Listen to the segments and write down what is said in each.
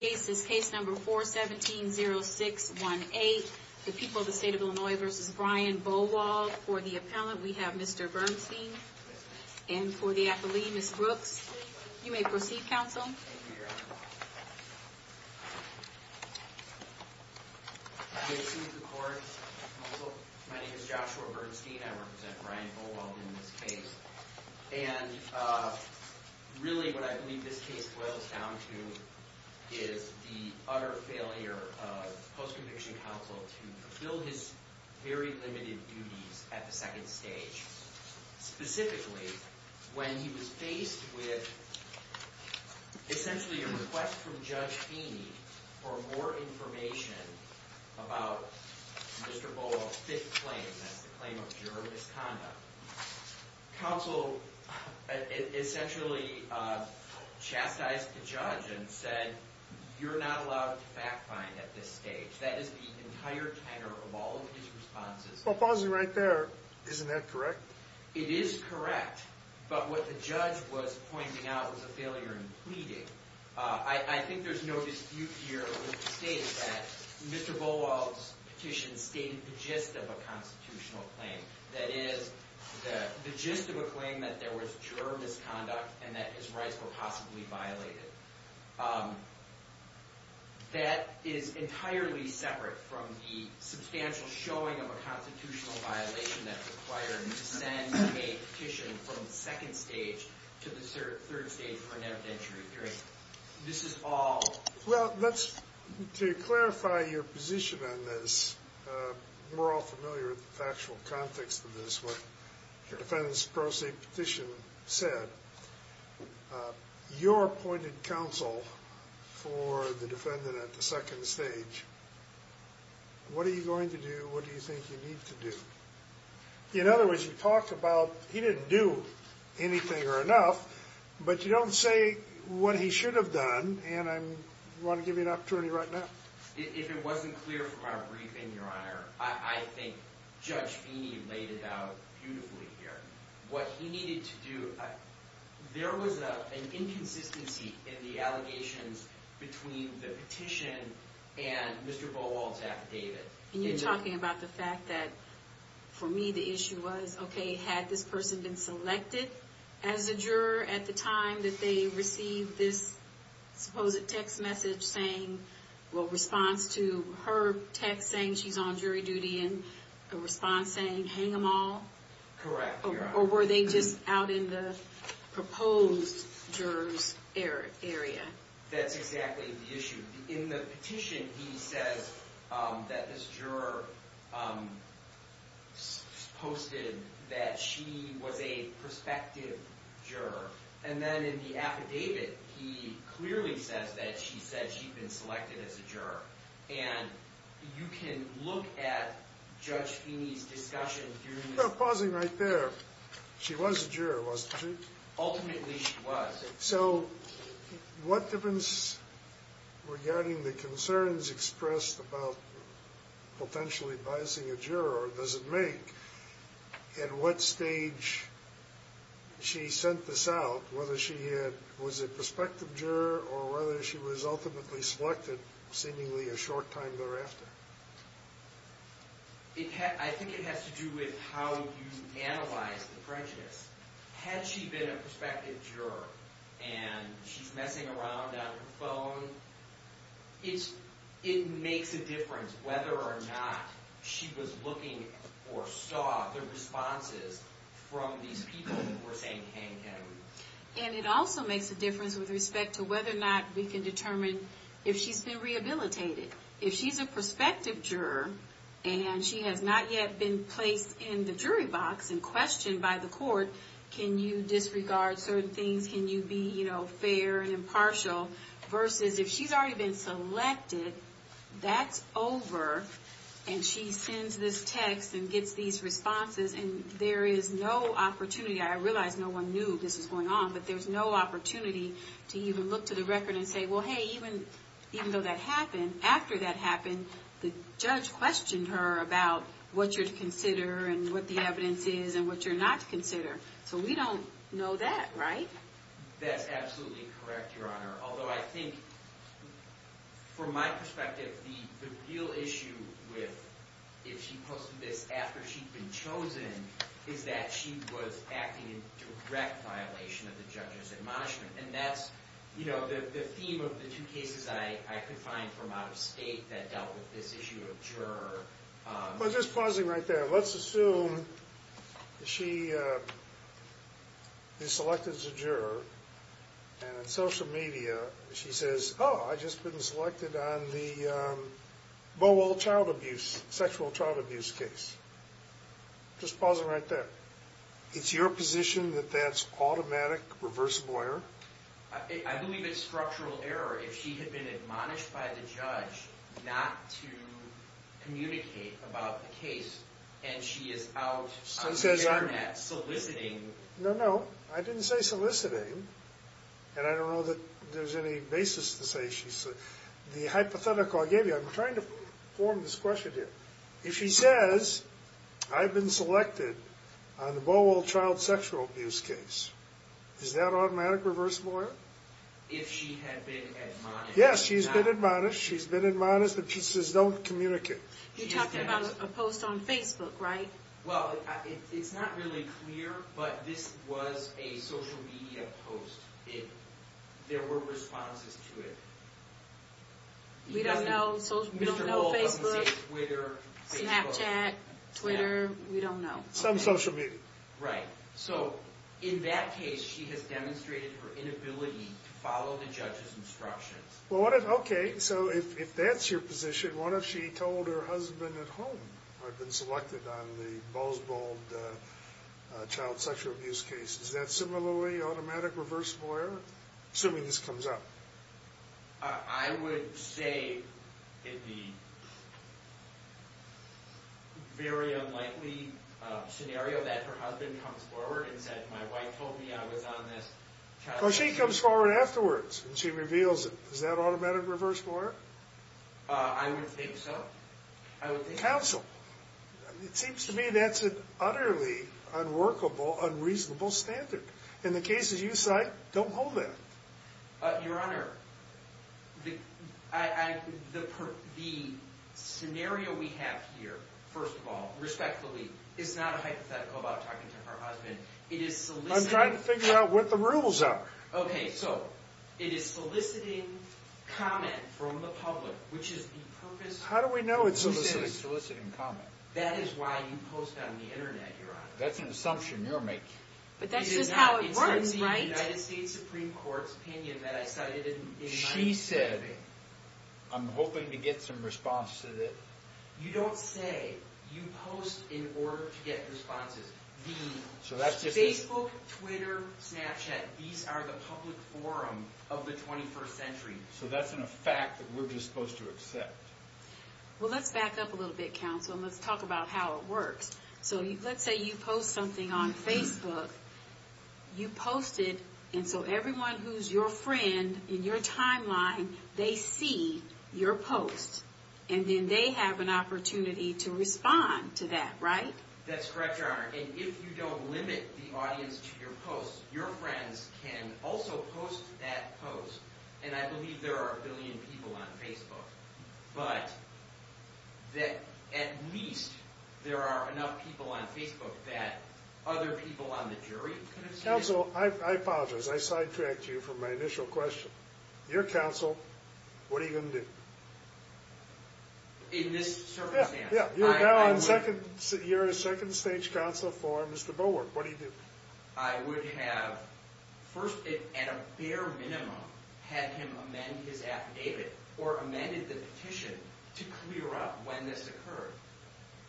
case is case number 4170618. The people of the state of Illinois versus Brian Bowald. For the appellant, we have Mr. Bernstein. And for the athlete, Ms. Brooks. You may proceed, counsel. Thank you, Your Honor. May it suit the court, counsel. My name is Joshua Bernstein. I represent Brian Bowald in this case. And really what I believe this case boils down to is the utter failure of the post-conviction counsel to fulfill his very limited duties at the second stage. Specifically, when he was faced with essentially a request from Judge Feeney for more information about Mr. Bowald's fifth claim, that's the claim of juror misconduct. Counsel essentially chastised the judge and said, you're not allowed to fact find at this stage. That is the entire tenor of all of his responses. Well, pausing right there, isn't that correct? Well, to clarify your position on this, we're all familiar with the factual context of this, what the defendant's pro se petition said. Your appointed counsel for the defendant at the second stage, what are you going to do? What do you think you need to do? In other words, you talk about he didn't do anything or enough, but you don't say what he should have done. And I want to give you an opportunity right now. If it wasn't clear from our briefing, Your Honor, I think Judge Feeney laid it out beautifully here. What he needed to do, there was an inconsistency in the allegations between the petition and Mr. Bowald's affidavit. And you're talking about the fact that, for me, the issue was, okay, had this person been selected as a juror at the time that they received this supposed text message saying, well, response to her text saying she's on jury duty and a response saying hang them all? Correct, Your Honor. Or were they just out in the proposed juror's area? That's exactly the issue. In the petition, he says that this juror posted that she was a prospective juror. And then in the affidavit, he clearly says that she said she'd been selected as a juror. And you can look at Judge Feeney's discussion during the You're pausing right there. She was a juror, wasn't she? Ultimately, she was. So what difference, regarding the concerns expressed about potentially biasing a juror, does it make at what stage she sent this out, whether she was a prospective juror or whether she was ultimately selected, seemingly a short time thereafter? I think it has to do with how you analyze the prejudice. Had she been a prospective juror and she's messing around on her phone, it makes a difference whether or not she was looking or saw the responses from these people who were saying hang him. And it also makes a difference with respect to whether or not we can determine if she's been rehabilitated. If she's a prospective juror and she has not yet been placed in the jury box and questioned by the court, can you disregard certain things? Can you be fair and impartial? Versus if she's already been selected, that's over and she sends this text and gets these responses and there is no opportunity. I realize no one knew this was going on, but there's no opportunity to even look to the record and say, well, hey, even though that happened, after that happened, the judge questioned her about what you're to consider and what the evidence is and what you're not to consider. So we don't know that, right? I think that's absolutely correct, Your Honor. Although I think, from my perspective, the real issue with if she posted this after she'd been chosen is that she was acting in direct violation of the judge's admonishment. And that's the theme of the two cases I could find from out of state that dealt with this issue of juror. But just pausing right there, let's assume she is selected as a juror and on social media she says, oh, I've just been selected on the Bowell child abuse, sexual child abuse case. Just pausing right there. It's your position that that's automatic, reversible error? I believe it's structural error if she had been admonished by the judge not to communicate about the case and she is out on the internet soliciting. No, no. I didn't say soliciting. And I don't know that there's any basis to say she's soliciting. The hypothetical I gave you, I'm trying to form this question here. If she says, I've been selected on the Bowell child sexual abuse case, is that automatic, reversible error? If she had been admonished. Yes, she's been admonished, she's been admonished, but she says don't communicate. You're talking about a post on Facebook, right? Well, it's not really clear, but this was a social media post. There were responses to it. We don't know Facebook, Snapchat, Twitter, we don't know. Some social media. Right. So in that case, she has demonstrated her inability to follow the judge's instructions. Okay, so if that's your position, what if she told her husband at home, I've been selected on the Bowell child sexual abuse case, is that similarly automatic, reversible error? Assuming this comes up. I would say it would be a very unlikely scenario that her husband comes forward and says my wife told me I was on this child sexual abuse case. Well, she comes forward afterwards and she reveals it. Is that automatic, reversible error? I would think so. Counsel, it seems to me that's an utterly unworkable, unreasonable standard. In the cases you cite, don't hold that. Your Honor, the scenario we have here, first of all, respectfully, is not a hypothetical about talking to her husband. I'm trying to figure out what the rules are. Okay, so it is soliciting comment from the public, which is the purpose of soliciting. How do we know it's soliciting? You said it's soliciting comment. That is why you post on the internet, Your Honor. That's an assumption you're making. But that's just how it works, right? It's in the United States Supreme Court's opinion that I cited in my statement. She said, I'm hoping to get some response to this. You don't say you post in order to get responses. The Facebook, Twitter, Snapchat, these are the public forum of the 21st century. So that's an effect that we're just supposed to accept. Well, let's back up a little bit, Counsel, and let's talk about how it works. So let's say you post something on Facebook. You post it, and so everyone who's your friend in your timeline, they see your post. And then they have an opportunity to respond to that, right? That's correct, Your Honor. And if you don't limit the audience to your posts, your friends can also post that post. And I believe there are a billion people on Facebook. But that at least there are enough people on Facebook that other people on the jury could have seen it. Counsel, I apologize. I sidetracked you from my initial question. You're counsel. What are you going to do? In this circumstance? Yeah, yeah. You're now on second stage counsel for Mr. Bowark. What do you do? I would have first, at a bare minimum, had him amend his affidavit or amended the petition to clear up when this occurred.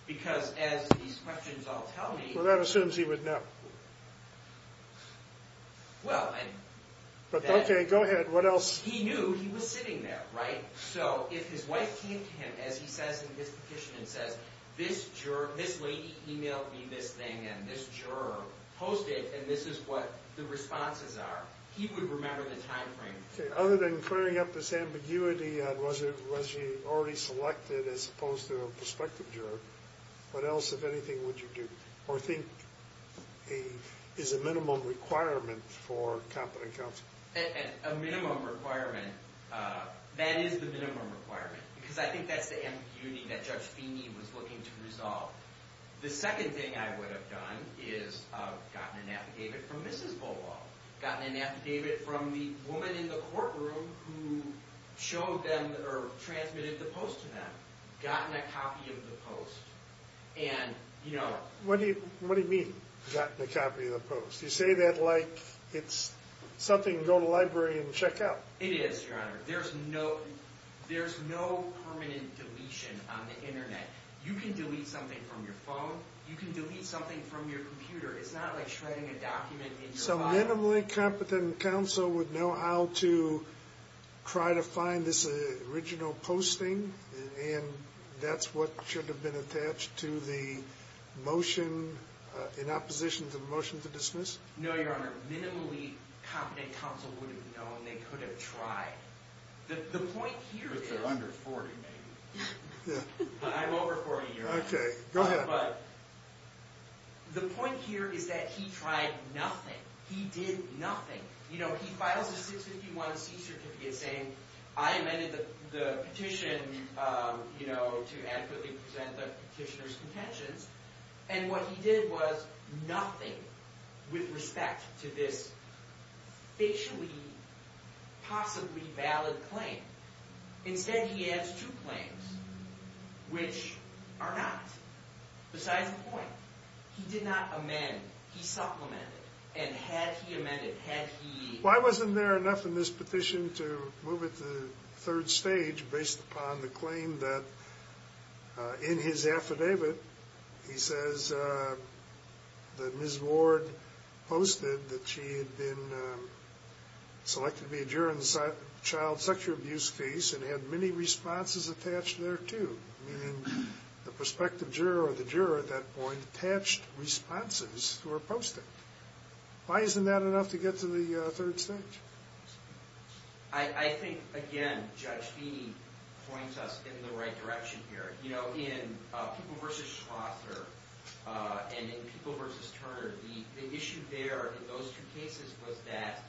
Because as these questions all tell me, Well, that assumes he would know. Well, and Okay, go ahead. What else? He knew he was sitting there, right? So if his wife came to him, as he says in his petition, and says, This juror, this lady emailed me this thing, and this juror posted, and this is what the responses are, he would remember the time frame. Okay, other than clearing up this ambiguity, was he already selected as opposed to a prospective juror? What else, if anything, would you do? Or think is a minimum requirement for competent counsel? A minimum requirement, that is the minimum requirement. Because I think that's the ambiguity that Judge Feeney was looking to resolve. The second thing I would have done is gotten an affidavit from Mrs. Bowark. Gotten an affidavit from the woman in the courtroom who showed them, or transmitted the post to them. Gotten a copy of the post. And, you know. What do you mean, gotten a copy of the post? You say that like it's something you can go to the library and check out. It is, Your Honor. There's no permanent deletion on the Internet. You can delete something from your phone. You can delete something from your computer. It's not like shredding a document in your file. So minimally competent counsel would know how to try to find this original posting, and that's what should have been attached to the motion in opposition to the motion to dismiss? No, Your Honor. Minimally competent counsel wouldn't know, and they could have tried. The point here is. But they're under 40, maybe. Yeah. I'm over 40, Your Honor. Okay. Go ahead. But the point here is that he tried nothing. He did nothing. You know, he files a 651C certificate saying I amended the petition, you know, to adequately present the petitioner's contentions. And what he did was nothing with respect to this facially possibly valid claim. Instead, he adds two claims, which are not. Besides the point, he did not amend. He supplemented. And had he amended? Had he? Well, I wasn't there enough in this petition to move it to the third stage based upon the claim that in his affidavit, he says that Ms. Ward posted that she had been selected to be a juror in the child sexual abuse case and had many responses attached there, too. Meaning the prospective juror or the juror at that point attached responses to her posting. Why isn't that enough to get to the third stage? I think, again, Judge Feeney points us in the right direction here. You know, in People v. Shrother and in People v. Turner, the issue there in those two cases was that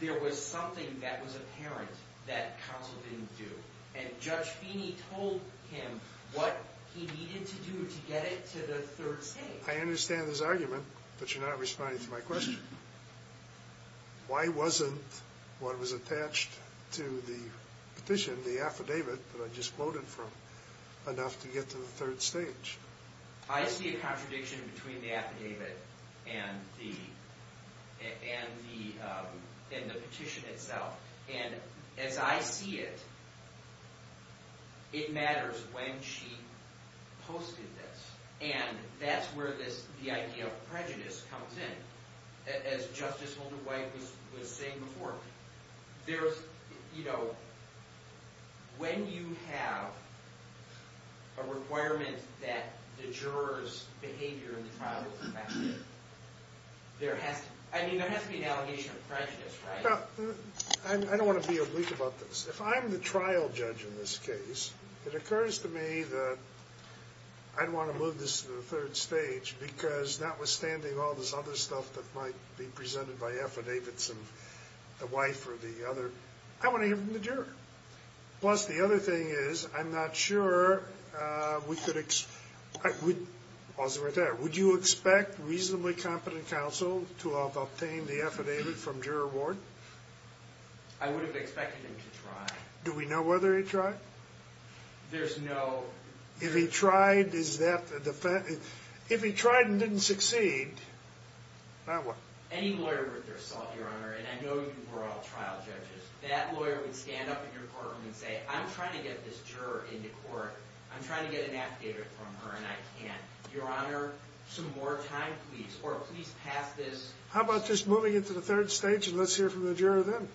there was something that was apparent that counsel didn't do. And Judge Feeney told him what he needed to do to get it to the third stage. I understand his argument, but you're not responding to my question. Why wasn't what was attached to the petition, the affidavit that I just quoted from, enough to get to the third stage? I see a contradiction between the affidavit and the petition itself. And as I see it, it matters when she posted this. And that's where the idea of prejudice comes in. As Justice Holder-White was saying before, when you have a requirement that the juror's behavior in the trial is affected, there has to be an allegation of prejudice, right? I don't want to be obliged about this. If I'm the trial judge in this case, it occurs to me that I'd want to move this to the third stage because notwithstanding all this other stuff that might be presented by affidavits of the wife or the other, I want to hear from the juror. Plus, the other thing is, I'm not sure we could expect – pause it right there – would you expect reasonably competent counsel to have obtained the affidavit from juror Ward? I would have expected him to try. Do we know whether he tried? There's no – If he tried, is that – if he tried and didn't succeed, then what? Any lawyer worth their salt, Your Honor, and I know you were all trial judges, that lawyer would stand up in your courtroom and say, I'm trying to get this juror into court, I'm trying to get an affidavit from her, and I can't. Your Honor, some more time, please, or please pass this – How about just moving it to the third stage and let's hear from the juror then?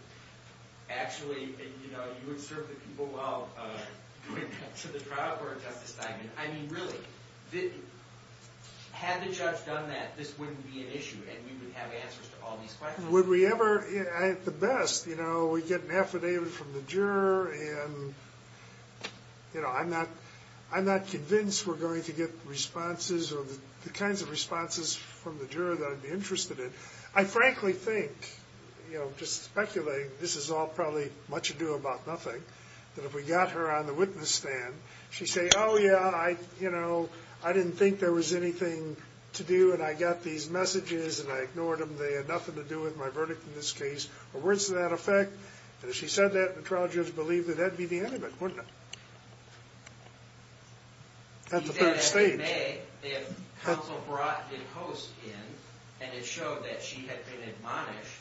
Actually, you would serve the people well to the trial court, Justice Steinman. I mean, really, had the judge done that, this wouldn't be an issue, and we would have answers to all these questions. Would we ever – at the best, you know, we get an affidavit from the juror and, you know, I'm not convinced we're going to get responses or the kinds of responses from the juror that I'd be interested in. I frankly think, you know, just speculating, this is all probably much ado about nothing, that if we got her on the witness stand, she'd say, oh, yeah, I, you know, I didn't think there was anything to do and I got these messages and I ignored them, they had nothing to do with my verdict in this case, or words to that effect, and if she said that, the trial judge believed that that would be the end of it, wouldn't it? At the third stage. He said, as we may, if counsel brought the host in and it showed that she had been admonished,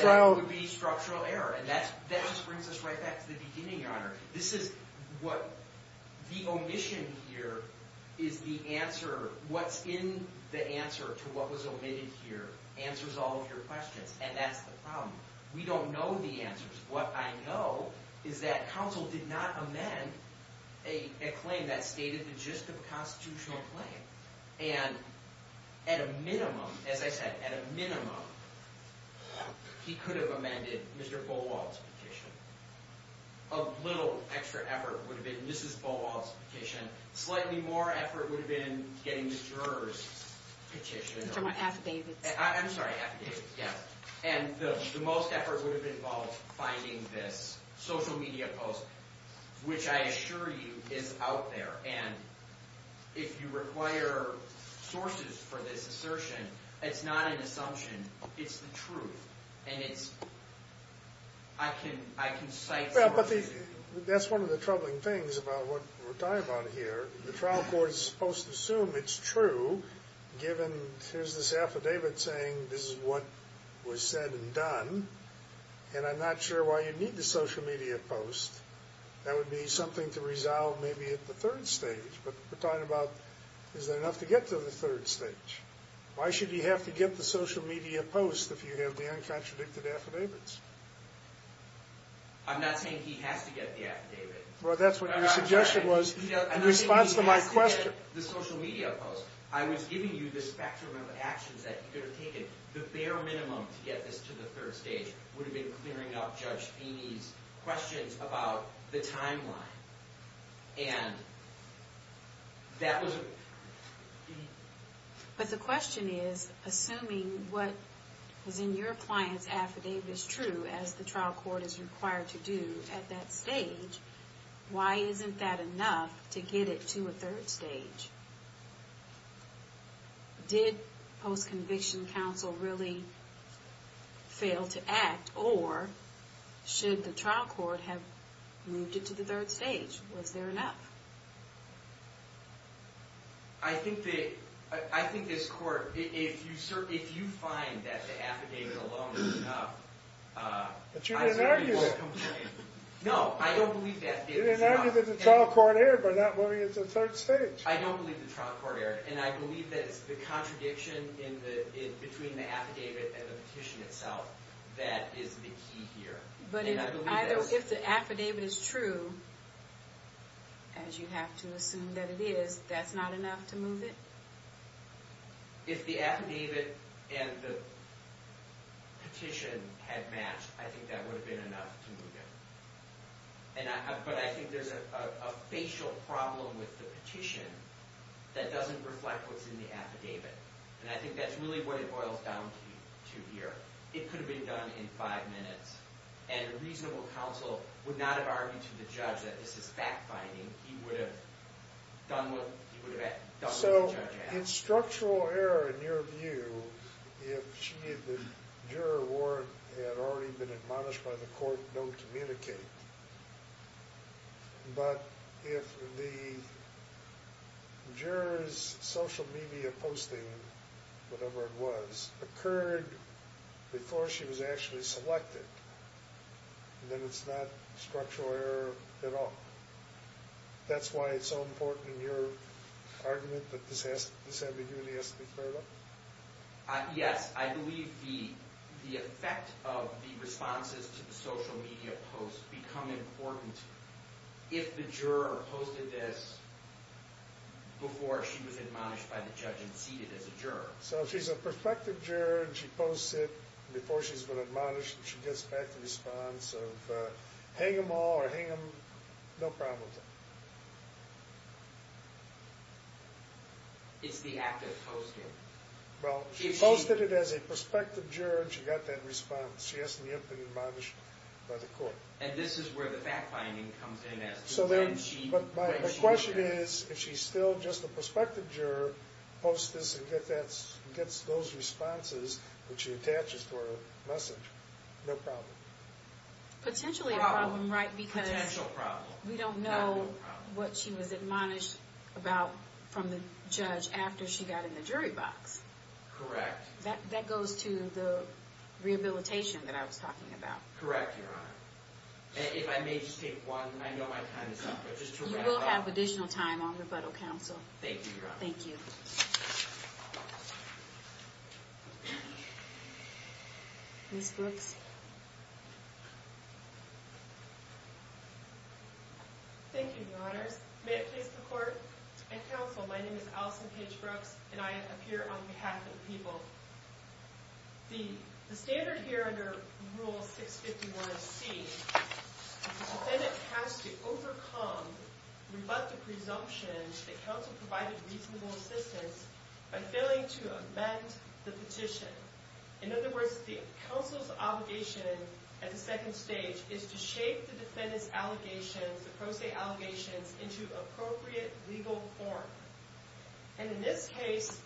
that would be structural error, and that just brings us right back to the beginning, Your Honor. This is what – the omission here is the answer – what's in the answer to what was omitted here answers all of your questions, and that's the problem. We don't know the answers. What I know is that counsel did not amend a claim that stated the gist of a constitutional claim, and at a minimum, as I said, at a minimum, he could have amended Mr. Folwell's petition. A little extra effort would have been – this is Folwell's petition – slightly more effort would have been getting the juror's petition. I'm sorry, affidavits. I'm sorry, affidavits, yes. And the most effort would have involved finding this social media post, which I assure you is out there, and if you require sources for this assertion, it's not an assumption, it's the truth, and it's – I can cite – Well, but that's one of the troubling things about what we're talking about here. The trial court is supposed to assume it's true, given here's this affidavit saying this is what was said and done, and I'm not sure why you need the social media post. That would be something to resolve maybe at the third stage, but we're talking about is there enough to get to the third stage. Why should he have to get the social media post if you have the uncontradicted affidavits? I'm not saying he has to get the affidavit. Well, that's what your suggestion was in response to my question. I'm not saying he has to get the social media post. I was giving you the spectrum of actions that he could have taken. The bare minimum to get this to the third stage would have been clearing up Judge Feeney's questions about the timeline, and that was it. But the question is, assuming what was in your client's affidavit is true, as the trial court is required to do at that stage, why isn't that enough to get it to a third stage? Did post-conviction counsel really fail to act, or should the trial court have moved it to the third stage? Was there enough? I think this court, if you find that the affidavit alone is enough, I say we won't come to it. But you didn't argue it. No, I don't believe that. You didn't argue that the trial court erred by not moving it to the third stage. I don't believe the trial court erred, and I believe that it's the contradiction between the affidavit and the petition itself that is the key here. But if the affidavit is true, as you have to assume that it is, that's not enough to move it? If the affidavit and the petition had matched, I think that would have been enough to move it. But I think there's a facial problem with the petition that doesn't reflect what's in the affidavit. And I think that's really what it boils down to here. It could have been done in five minutes, and a reasonable counsel would not have argued to the judge that this is fact-finding. He would have done what the judge had. So, in structural error, in your view, if the juror warrant had already been admonished by the court, don't communicate. But if the juror's social media posting, whatever it was, occurred before she was actually selected, then it's not structural error at all. That's why it's so important in your argument that this affidavit has to be cleared up? Yes, I believe the effect of the responses to the social media posts become important if the juror posted this before she was admonished by the judge and seated as a juror. So if she's a perfected juror and she posts it before she's been admonished and she gets back the response of hang them all or hang them, no problem with that. It's the act of posting. Well, she posted it as a perspective juror and she got that response. She hasn't yet been admonished by the court. And this is where the fact-finding comes in as to when she posted it. The question is, if she's still just a perspective juror, posts this and gets those responses that she attaches to her message, no problem. Potentially a problem, right? Potential problem. We don't know what she was admonished about from the judge after she got in the jury box. Correct. That goes to the rehabilitation that I was talking about. Correct, Your Honor. If I may just take one, I know my time is up, but just to wrap up. You will have additional time on rebuttal counsel. Thank you, Your Honor. Thank you. Ms. Brooks? Thank you, Your Honors. May it please the Court and counsel, my name is Allison Paige Brooks, and I appear on behalf of the people. The standard here under Rule 651C, the defendant has to overcome rebuttal presumptions that counsel provided reasonable assistance by failing to amend the petition. In other words, the counsel's obligation at the second stage is to shape the defendant's allegations, the pro se allegations, into appropriate legal form. And in this case,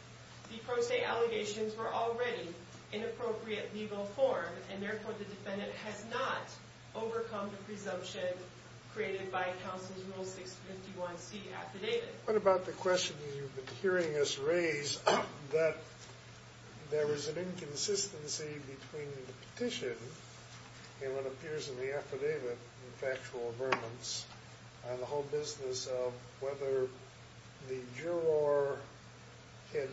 the pro se allegations were already in appropriate legal form, and therefore the defendant has not overcome the presumption created by counsel's Rule 651C affidavit. What about the question you've been hearing us raise that there was an inconsistency between the petition and what appears in the affidavit, the factual affirmance, and the whole business of whether the juror had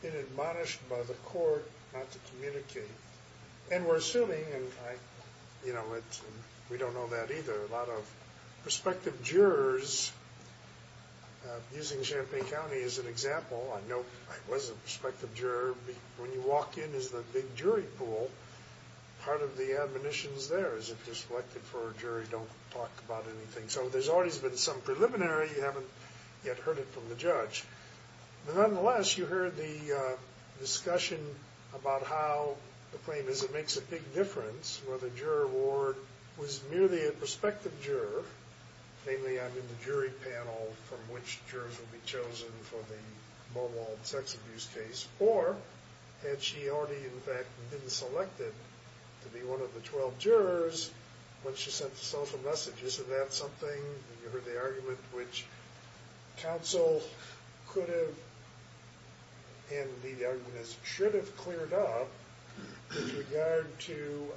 been admonished by the court not to communicate. And we're assuming, and we don't know that either, a lot of prospective jurors, using Champaign County as an example, I know I was a prospective juror, when you walk in is the big jury pool. Part of the admonitions there is if you're selected for a jury, don't talk about anything. So there's always been some preliminary, you haven't yet heard it from the judge. Nonetheless, you heard the discussion about how the claim is it makes a big difference whether the juror was merely a prospective juror, namely under the jury panel from which jurors will be chosen for the mobile sex abuse case, or had she already, in fact, been selected to be one of the 12 jurors when she sent the social messages. Isn't that something? You heard the argument which counsel could have, and the argument should have, cleared up with regard to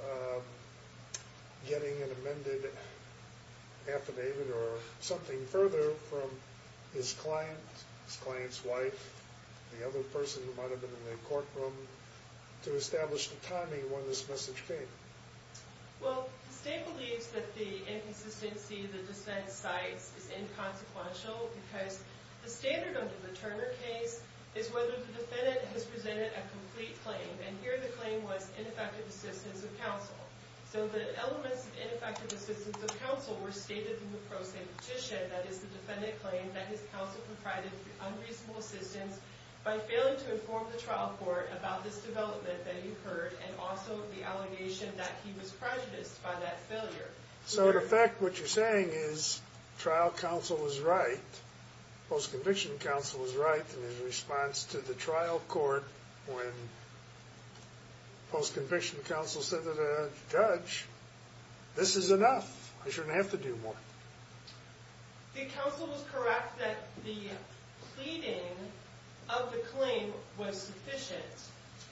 getting an amended affidavit or something further from his client, his client's wife, the other person who might have been in the courtroom, to establish the timing when this message came. Well, the state believes that the inconsistency the dissent cites is inconsequential because the standard under the Turner case is whether the defendant has presented a complete claim, and here the claim was ineffective assistance of counsel. So the elements of ineffective assistance of counsel were stated in the pro se petition, that is, the defendant claimed that his counsel provided unreasonable assistance by failing to inform the trial court about this development that you heard and also the allegation that he was prejudiced by that failure. So, in effect, what you're saying is trial counsel was right, post-conviction counsel was right in his response to the trial court This is enough. I shouldn't have to do more. The counsel was correct that the pleading of the claim was sufficient.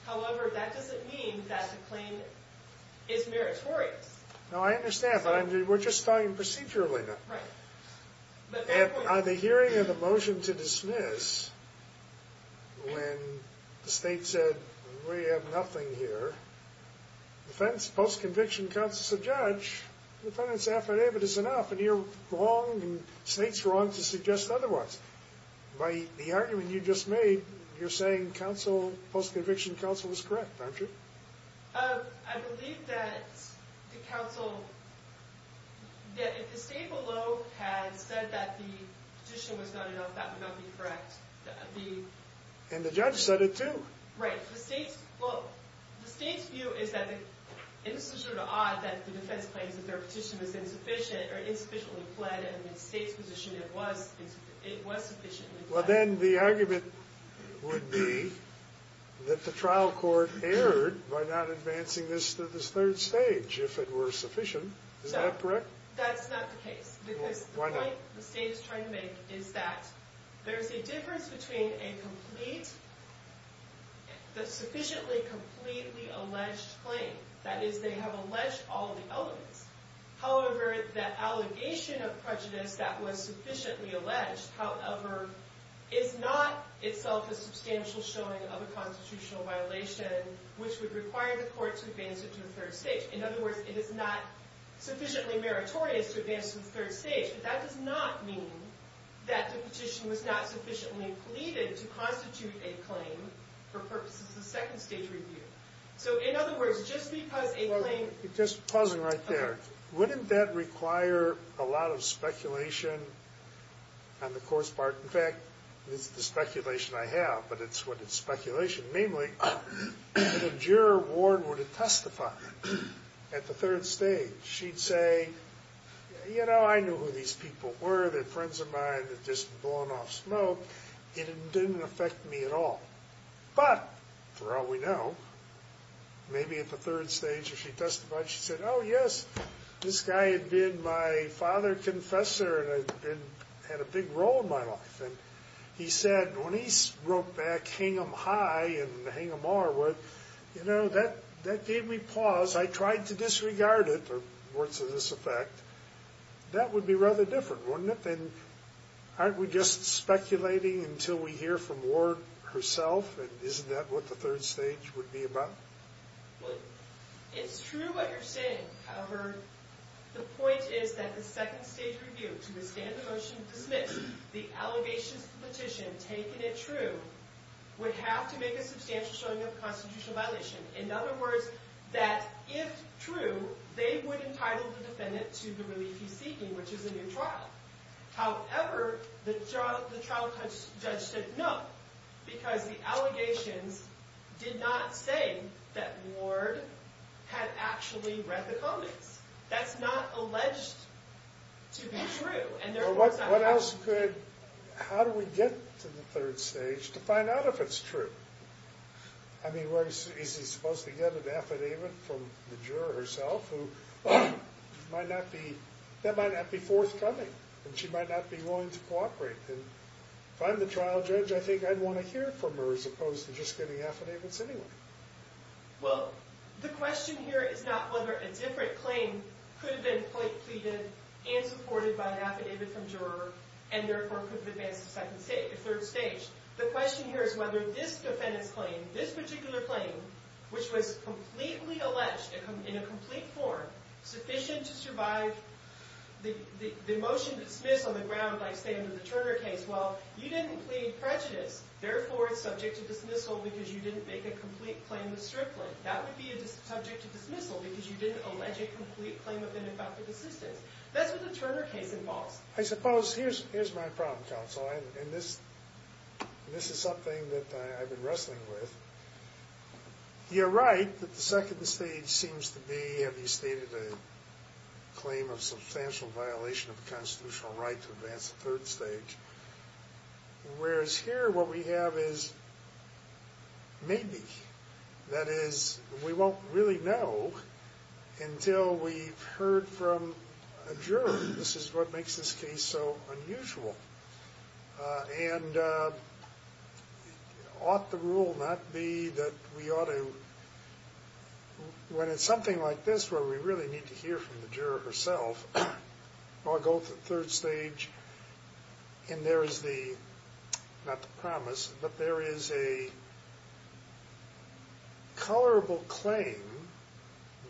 However, that doesn't mean that the claim is meritorious. No, I understand, but we're just talking procedurally now. Right. At the hearing of the motion to dismiss, when the state said, we have nothing here, post-conviction counsel said, Judge, the defendant's affidavit is enough, and you're wrong, and the state's wrong to suggest otherwise. By the argument you just made, you're saying post-conviction counsel was correct, aren't you? I believe that if the state below had said that the petition was not enough, that would not be correct. And the judge said it too. Right. Well, the state's view is that it's sort of odd that the defense claims that their petition was insufficient or insufficiently pled, and the state's position it was sufficiently pled. Well, then the argument would be that the trial court erred by not advancing this to this third stage, if it were sufficient. Is that correct? That's not the case, because the point the state is trying to make is that there's a difference between a sufficiently completely alleged claim, that is, they have alleged all the elements. However, that allegation of prejudice that was sufficiently alleged, however, is not itself a substantial showing of a constitutional violation, which would require the court to advance it to the third stage. In other words, it is not sufficiently meritorious to advance it to the third stage, but that does not mean that the petition was not sufficiently pleaded to constitute a claim for purposes of second stage review. So, in other words, just because a claim... Just pausing right there. Wouldn't that require a lot of speculation on the court's part? In fact, it's the speculation I have, but it's what it's speculation. Namely, if the juror were to testify at the third stage, she'd say, you know, I knew who these people were. They're friends of mine. They're just blown off smoke. It didn't affect me at all. But, for all we know, maybe at the third stage, if she testified, she said, oh, yes, this guy had been my father confessor and had a big role in my life. And he said, when he wrote back, hang him high and hang him hard, you know, that gave me pause. I tried to disregard it, or words to this effect. That would be rather different, wouldn't it? And aren't we just speculating until we hear from Ward herself? And isn't that what the third stage would be about? Well, it's true what you're saying. However, the point is that the second stage review, to withstand the motion to dismiss, the allegations of the petition, taking it true, would have to make a substantial showing of constitutional violation. In other words, that if true, they would entitle the defendant to the relief he's seeking, which is a new trial. However, the trial judge said no, because the allegations did not say that Ward had actually read the comics. That's not alleged to be true. What else could, how do we get to the third stage to find out if it's true? I mean, is he supposed to get an affidavit from the juror herself, who might not be, that might not be forthcoming, and she might not be willing to cooperate. And if I'm the trial judge, I think I'd want to hear from her, as opposed to just getting affidavits anyway. Well, the question here is not whether a different claim could have been pleaded and supported by an affidavit from a juror, and therefore could have advanced to the third stage. The question here is whether this defendant's claim, this particular claim, which was completely alleged in a complete form, sufficient to survive the motion dismissed on the ground, like stated in the Turner case, well, you didn't plead prejudice, therefore it's subject to dismissal because you didn't make a complete claim with Strickland. That would be subject to dismissal because you didn't allege a complete claim of ineffective assistance. I suppose, here's my problem, counsel. And this is something that I've been wrestling with. You're right that the second stage seems to be, have you stated a claim of substantial violation of the constitutional right to advance to the third stage, whereas here what we have is maybe. That is, we won't really know until we've heard from a juror. This is what makes this case so unusual. And ought the rule not be that we ought to, when it's something like this where we really need to hear from the juror herself, or go to the third stage, and there is the, not the promise, but there is a colorable claim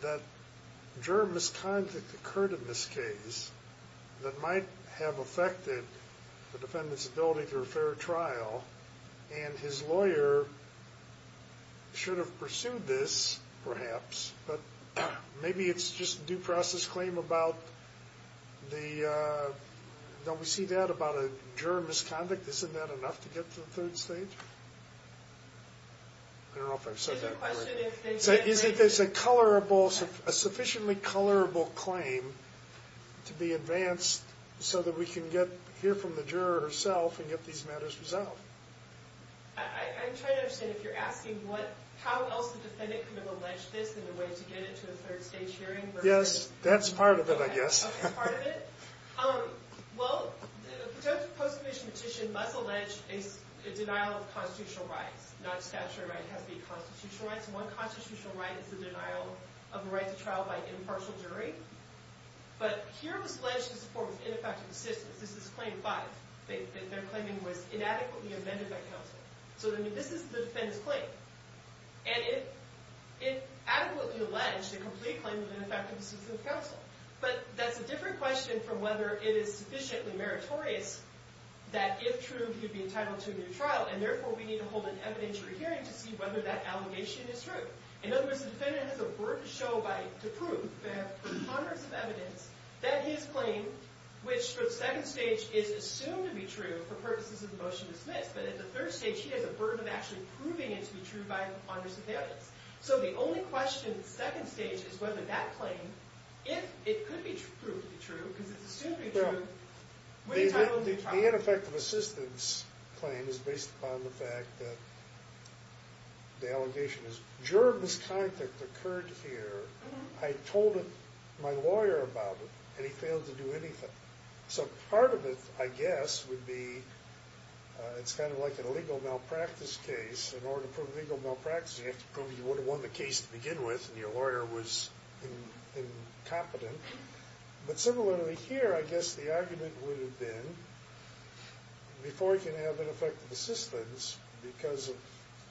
that juror misconduct occurred in this case that might have affected the defendant's ability to refer a trial. And his lawyer should have pursued this, perhaps. But maybe it's just due process claim about the, don't we see that about a juror misconduct? Isn't that enough to get to the third stage? I don't know if I've said that correctly. Is it that there's a colorable, a sufficiently colorable claim to be advanced so that we can get, hear from the juror herself and get these matters resolved? I'm trying to understand if you're asking what, how else the defendant could have alleged this in a way to get it to the third stage hearing versus... Yes, that's part of it, I guess. Okay, part of it. Well, the post-conviction petition must allege a denial of constitutional rights, not statutory rights, it has to be constitutional rights. One constitutional right is the denial of a right to trial by an impartial jury. But here it was alleged in support of ineffective assistance. This is claim five. Their claiming was inadequately amended by counsel. So this is the defendant's claim. And it adequately alleged a complete claim of ineffective assistance of counsel. But that's a different question from whether it is sufficiently meritorious that if true, he'd be entitled to a new trial, and therefore we need to hold an evidentiary hearing to see whether that allegation is true. In other words, the defendant has a burden to show by, to prove, they have hundreds of evidence that his claim, which for the second stage is assumed to be true for purposes of the motion dismissed, but at the third stage he has a burden of actually proving it to be true by hundreds of evidence. So the only question at the second stage is whether that claim, if it could be proved to be true, because it's assumed to be true, would he be entitled to a new trial? The ineffective assistance claim is based upon the fact that the allegation is, during this conflict that occurred here, I told my lawyer about it, and he failed to do anything. So part of it, I guess, would be it's kind of like an illegal malpractice case. In order to prove legal malpractice, you have to prove you would have won the case to begin with, and your lawyer was incompetent. But similarly here, I guess the argument would have been, before he can have ineffective assistance because of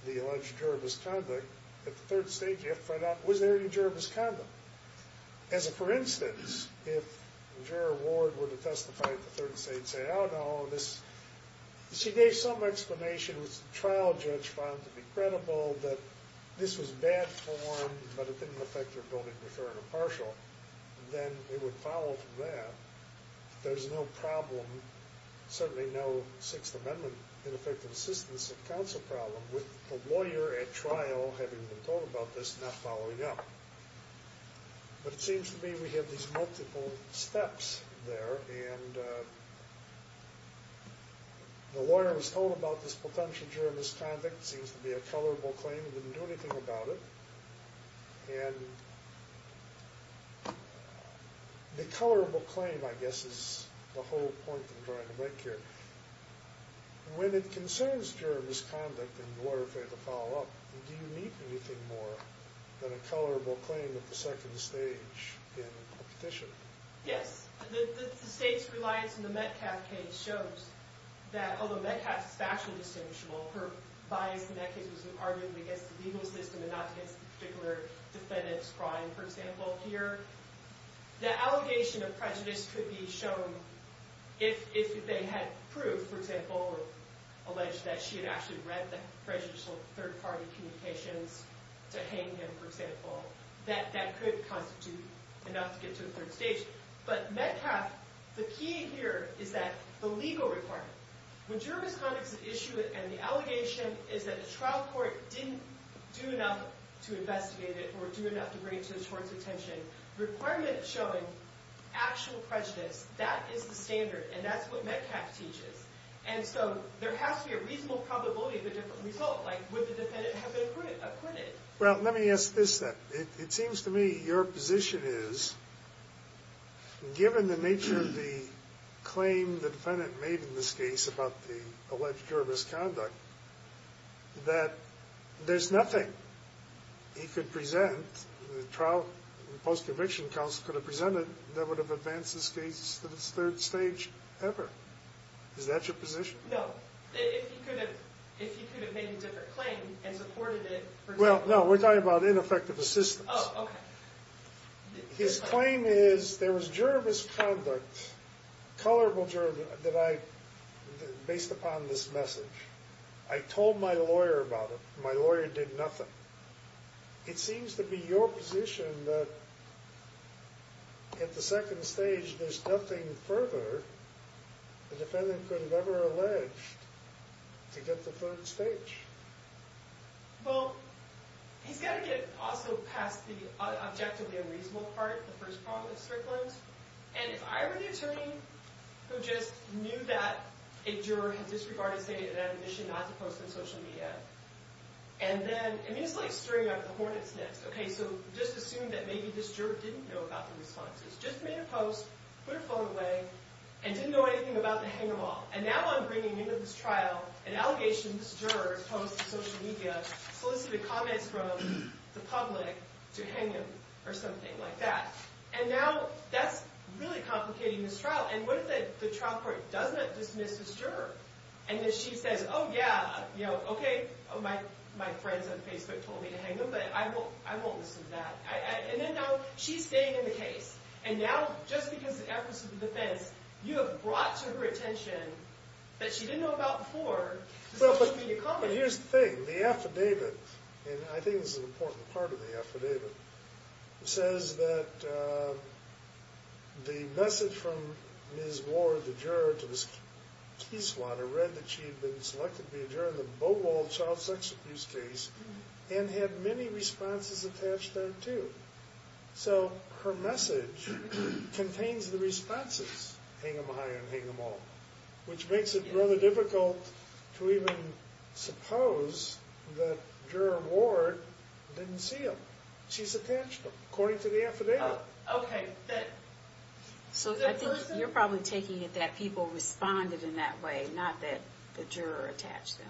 the alleged juror misconduct, at the third stage you have to find out, was there any juror misconduct? As a for instance, if juror Ward were to testify at the third stage and say, oh, no, this, she gave some explanation, which the trial judge found to be credible, that this was bad form, but it didn't affect her ability to defer an impartial, then it would follow from that. There's no problem, certainly no Sixth Amendment ineffective assistance and counsel problem with the lawyer at trial having been told about this and not following up. But it seems to me we have these multiple steps there, and the lawyer was told about this potential juror misconduct, seems to be a colorable claim, didn't do anything about it. And the colorable claim, I guess, is the whole point of drawing a break here. When it concerns juror misconduct and the lawyer failing to follow up, do you need anything more than a colorable claim at the second stage in a petition? Yes. The state's reliance on the Metcalf case shows that, although Metcalf is factually distinguishable, her bias in that case was arguably against the legal system and not against the particular defendant's crime, for example, here. The allegation of prejudice could be shown if they had proved, for example, or alleged that she had actually read the prejudicial third-party communications to hang him, for example. That could constitute enough to get to the third stage. But Metcalf, the key here is that the legal requirement, when juror misconduct is an issue and the allegation is that the trial court didn't do enough to investigate it or do enough to bring it to the court's attention, the requirement is showing actual prejudice. That is the standard, and that's what Metcalf teaches. And so there has to be a reasonable probability of a different result. Like, would the defendant have been acquitted? Well, let me ask this then. It seems to me your position is, given the nature of the claim the defendant made in this case about the alleged juror misconduct, that there's nothing he could present, the post-conviction counsel could have presented that would have advanced this case to the third stage ever. Is that your position? No. If he could have made a different claim and supported it, for example. No, we're talking about ineffective assistance. Oh, okay. His claim is, there was juror misconduct, colorable juror misconduct, based upon this message. I told my lawyer about it. My lawyer did nothing. It seems to be your position that at the second stage, there's nothing further the defendant could have ever alleged to get to the third stage. Well, he's got to get also past the objectively unreasonable part, the first problem with Strickland. And if I were the attorney who just knew that a juror had disregarded saying that he had a mission not to post on social media, and then, I mean, it's like stirring up the hornet's nest, okay? So just assume that maybe this juror didn't know about the responses. Just made a post, put her phone away, and didn't know anything about the hang-them-all. And now I'm bringing into this trial an allegation this juror has posted on social media, solicited comments from the public to hang him or something like that. And now that's really complicating this trial. And what if the trial court does not dismiss this juror? And then she says, oh, yeah, you know, okay, my friends on Facebook told me to hang him, but I won't listen to that. And then now she's staying in the case. And now just because the efforts of the defense, you have brought to her attention that she didn't know about before. Well, but here's the thing. The affidavit, and I think this is an important part of the affidavit, says that the message from Ms. Ward, the juror to this key swatter, read that she had been selected to be a juror in the Beaumont child sex abuse case and had many responses attached there, too. So her message contains the responses, hang him or hire him, hang them all, which makes it rather difficult to even suppose that juror Ward didn't see them. She's attached them, according to the affidavit. Okay. So I think you're probably taking it that people responded in that way, not that the juror attached them.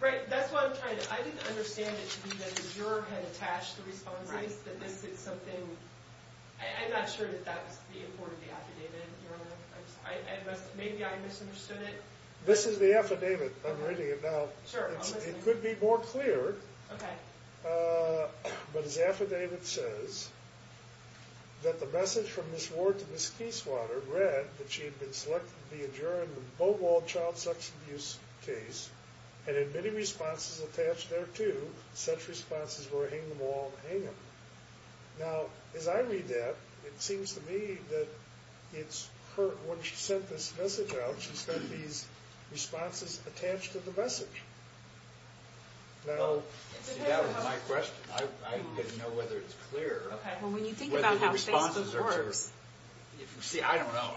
Right, that's what I'm trying to do. I didn't understand it to be that the juror had attached the responses, that this is something. I'm not sure that that was the importance of the affidavit. Maybe I misunderstood it. This is the affidavit. I'm reading it now. It could be more clear. Okay. But his affidavit says that the message from Ms. Ward to Ms. Keyswatter read that she had been selected to be a juror in the Beaumont child sex abuse case and had many responses attached there, too. Such responses were hang them all and hang them. Now, as I read that, it seems to me that it's her. When she sent this message out, she sent these responses attached to the message. See, that was my question. I didn't know whether it was clear. Well, when you think about how Facebook works. See, I don't know.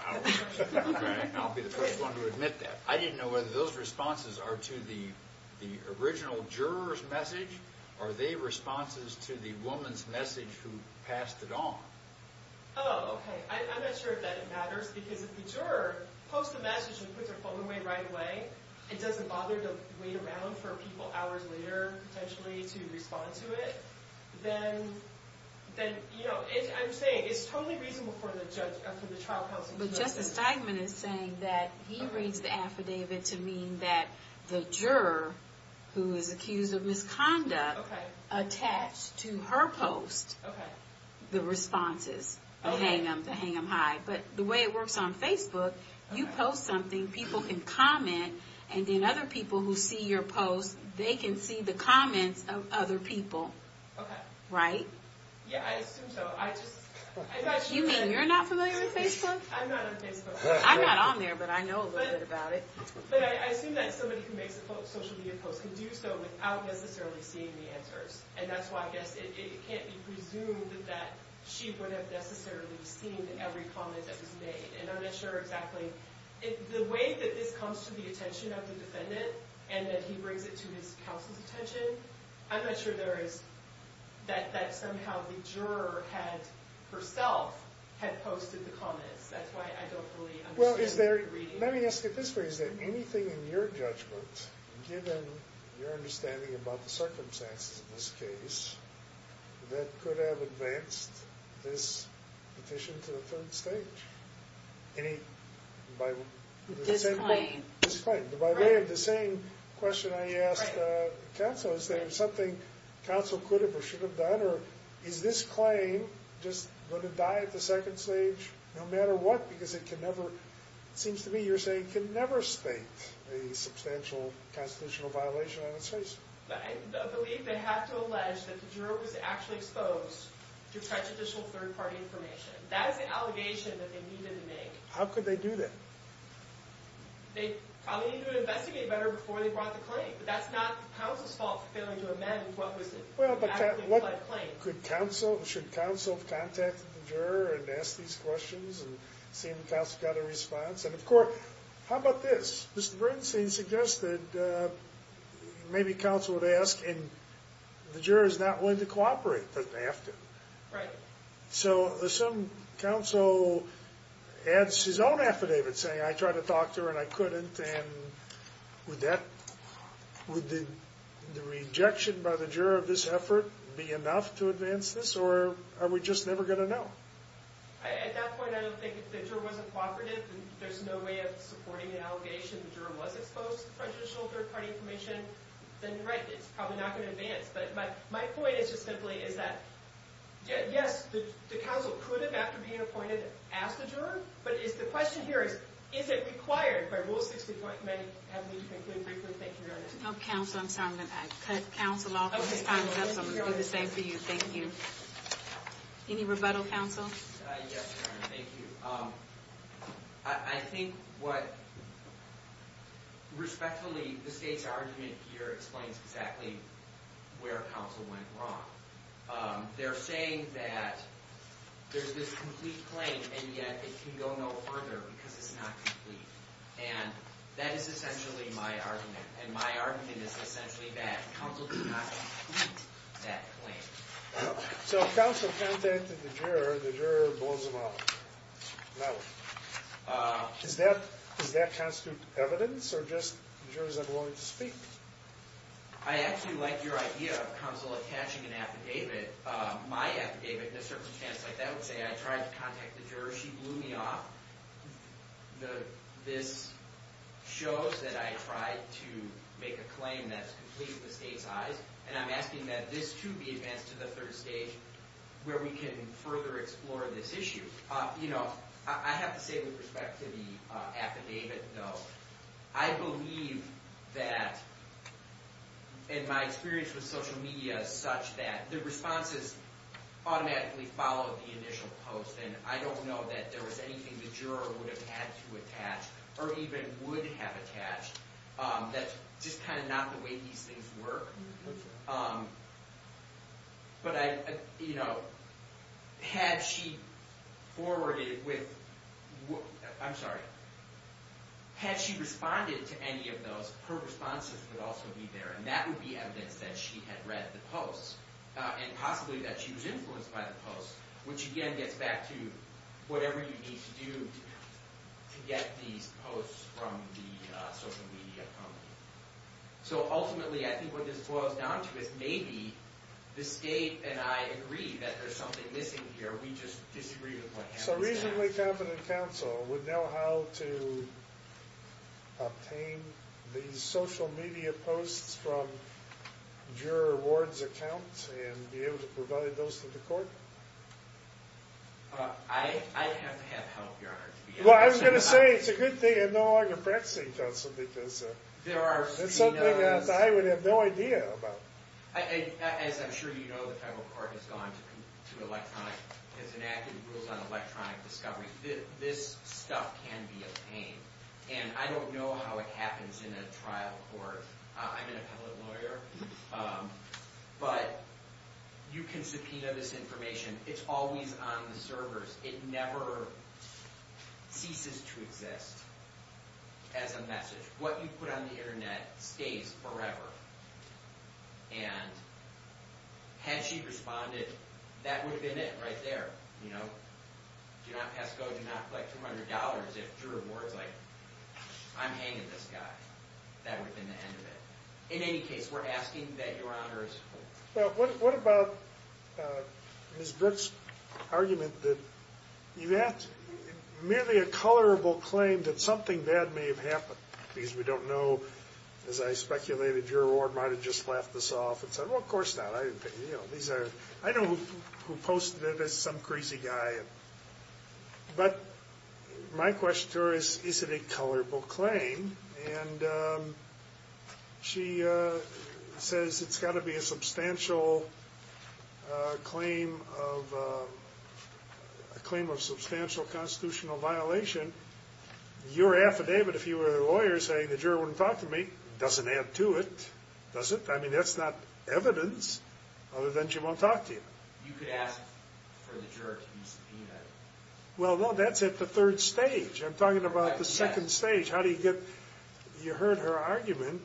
I'll be the first one to admit that. I didn't know whether those responses are to the original juror's message or they're responses to the woman's message who passed it on. Oh, okay. I'm not sure that it matters, because if the juror posts a message and puts her phone away right away and doesn't bother to wait around for people hours later, potentially, to respond to it, then, you know, I'm saying it's totally reasonable for the trial counsel. But Justice Steigman is saying that he reads the affidavit to mean that the juror who is accused of misconduct attached to her post the responses to hang them high. But the way it works on Facebook, you post something, people can comment, and then other people who see your post, they can see the comments of other people. Okay. Right? Yeah, I assume so. You mean you're not familiar with Facebook? I'm not on Facebook. I'm not on there, but I know a little bit about it. But I assume that somebody who makes a social media post can do so without necessarily seeing the answers. And that's why I guess it can't be presumed that she would have necessarily seen every comment that was made. And I'm not sure exactly. The way that this comes to the attention of the defendant and that he brings it to his counsel's attention, I'm not sure that somehow the juror herself had posted the comments. That's why I don't really understand the reading. Let me ask you this way. Is there anything in your judgment, given your understanding about the circumstances of this case, that could have advanced this petition to the third stage? Any? Disclaim. Disclaim. By way of the same question I asked the counsel, is there something counsel could have or should have done? Or is this claim just going to die at the second stage no matter what? Because it can never, it seems to me you're saying, can never state a substantial constitutional violation on its face. I believe they have to allege that the juror was actually exposed to prejudicial third-party information. That is the allegation that they needed to make. How could they do that? They probably needed to investigate better before they brought the claim. But that's not counsel's fault for failing to amend what was the actually implied claim. Should counsel have contacted the juror and asked these questions and seen if counsel got a response? And, of course, how about this? Mr. Bernstein suggested maybe counsel would ask, and the juror is not willing to cooperate, but they have to. Right. So some counsel adds his own affidavit saying, I tried to talk to her and I couldn't, and would the rejection by the juror of this effort be enough to advance this, or are we just never going to know? At that point, I don't think if the juror wasn't cooperative and there's no way of supporting the allegation the juror was exposed to prejudicial third-party information, then, right, it's probably not going to advance. But my point is just simply is that, yes, the counsel could have, after being appointed, asked the juror, but the question here is, is it required by Rule 60.9? I'm sorry, I'm going to cut counsel off. His time is up, so I'm going to do the same for you. Thank you. Any rebuttal, counsel? Yes, Your Honor, thank you. I think what respectfully the state's argument here explains exactly where counsel went wrong. They're saying that there's this complete claim, and yet it can go no further because it's not complete. And that is essentially my argument, and my argument is essentially that counsel did not complete that claim. So if counsel contacted the juror, the juror blows him off. No. Does that constitute evidence, or just jurors are willing to speak? I actually like your idea of counsel attaching an affidavit. My affidavit, in a circumstance like that, would say, I tried to contact the juror, she blew me off. This shows that I tried to make a claim that's complete in the state's eyes, and I'm asking that this, too, be advanced to the third stage, where we can further explore this issue. You know, I have to say, with respect to the affidavit, though, I believe that, in my experience with social media, such that the responses automatically follow the initial post, and I don't know that there was anything the juror would have had to attach, or even would have attached, that's just kind of not the way these things work. But I, you know, had she forwarded with, I'm sorry, had she responded to any of those, her responses would also be there, and that would be evidence that she had read the post, and possibly that she was influenced by the post, which, again, gets back to whatever you need to do to get these posts from the social media company. So ultimately, I think what this boils down to is, maybe the state and I agree that there's something missing here, we just disagree with what happened. So a reasonably competent counsel would know how to obtain these social media posts from juror Ward's account and be able to provide those to the court. I'd have to have help, Your Honor. Well, I was going to say, it's a good thing I'm no longer practicing counsel, because it's something that I would have no idea about. As I'm sure you know, the federal court has gone to electronic, has enacted rules on electronic discovery. This stuff can be a pain. And I don't know how it happens in a trial court. I'm an appellate lawyer. But you can subpoena this information. It's always on the servers. It never ceases to exist as a message. What you put on the Internet stays forever. And had she responded, that would have been it right there. Do not pass go, do not collect $200 if juror Ward's like, I'm hanging this guy, that would have been the end of it. In any case, we're asking that Your Honor is cool. What about Ms. Brooks' argument that you have merely a colorable claim that something bad may have happened, because we don't know, as I speculated, juror Ward might have just laughed this off and said, well, of course not. I know who posted it as some crazy guy. But my question to her is, is it a colorable claim? And she says it's got to be a claim of substantial constitutional violation. Your affidavit, if you were a lawyer, saying the juror wouldn't talk to me, doesn't add to it, does it? I mean, that's not evidence other than she won't talk to you. You could ask for the juror to be subpoenaed. Well, no, that's at the third stage. I'm talking about the second stage. You heard her argument.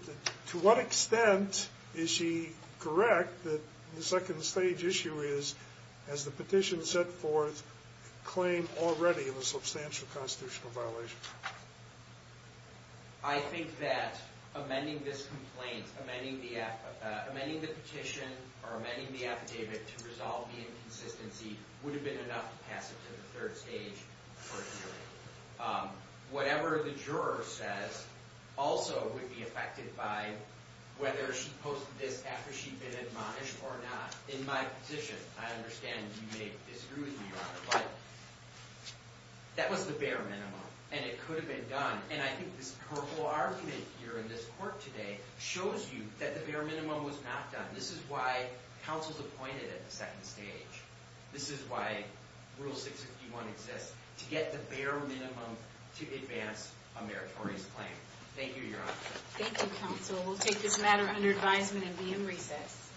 To what extent is she correct that the second stage issue is, as the petition set forth, a claim already of a substantial constitutional violation? I think that amending this complaint, amending the petition, or amending the affidavit to resolve the inconsistency, would have been enough to pass it to the third stage court hearing. Whatever the juror says also would be affected by whether she posted this after she'd been admonished or not. In my position, I understand you may disagree with me, Your Honor, but that was the bare minimum, and it could have been done. And I think this purple argument here in this court today shows you that the bare minimum was not done. This is why counsel is appointed at the second stage. This is why Rule 651 exists, to get the bare minimum to advance a meritorious claim. Thank you, Your Honor. Thank you, counsel. We'll take this matter under advisement and be in recess.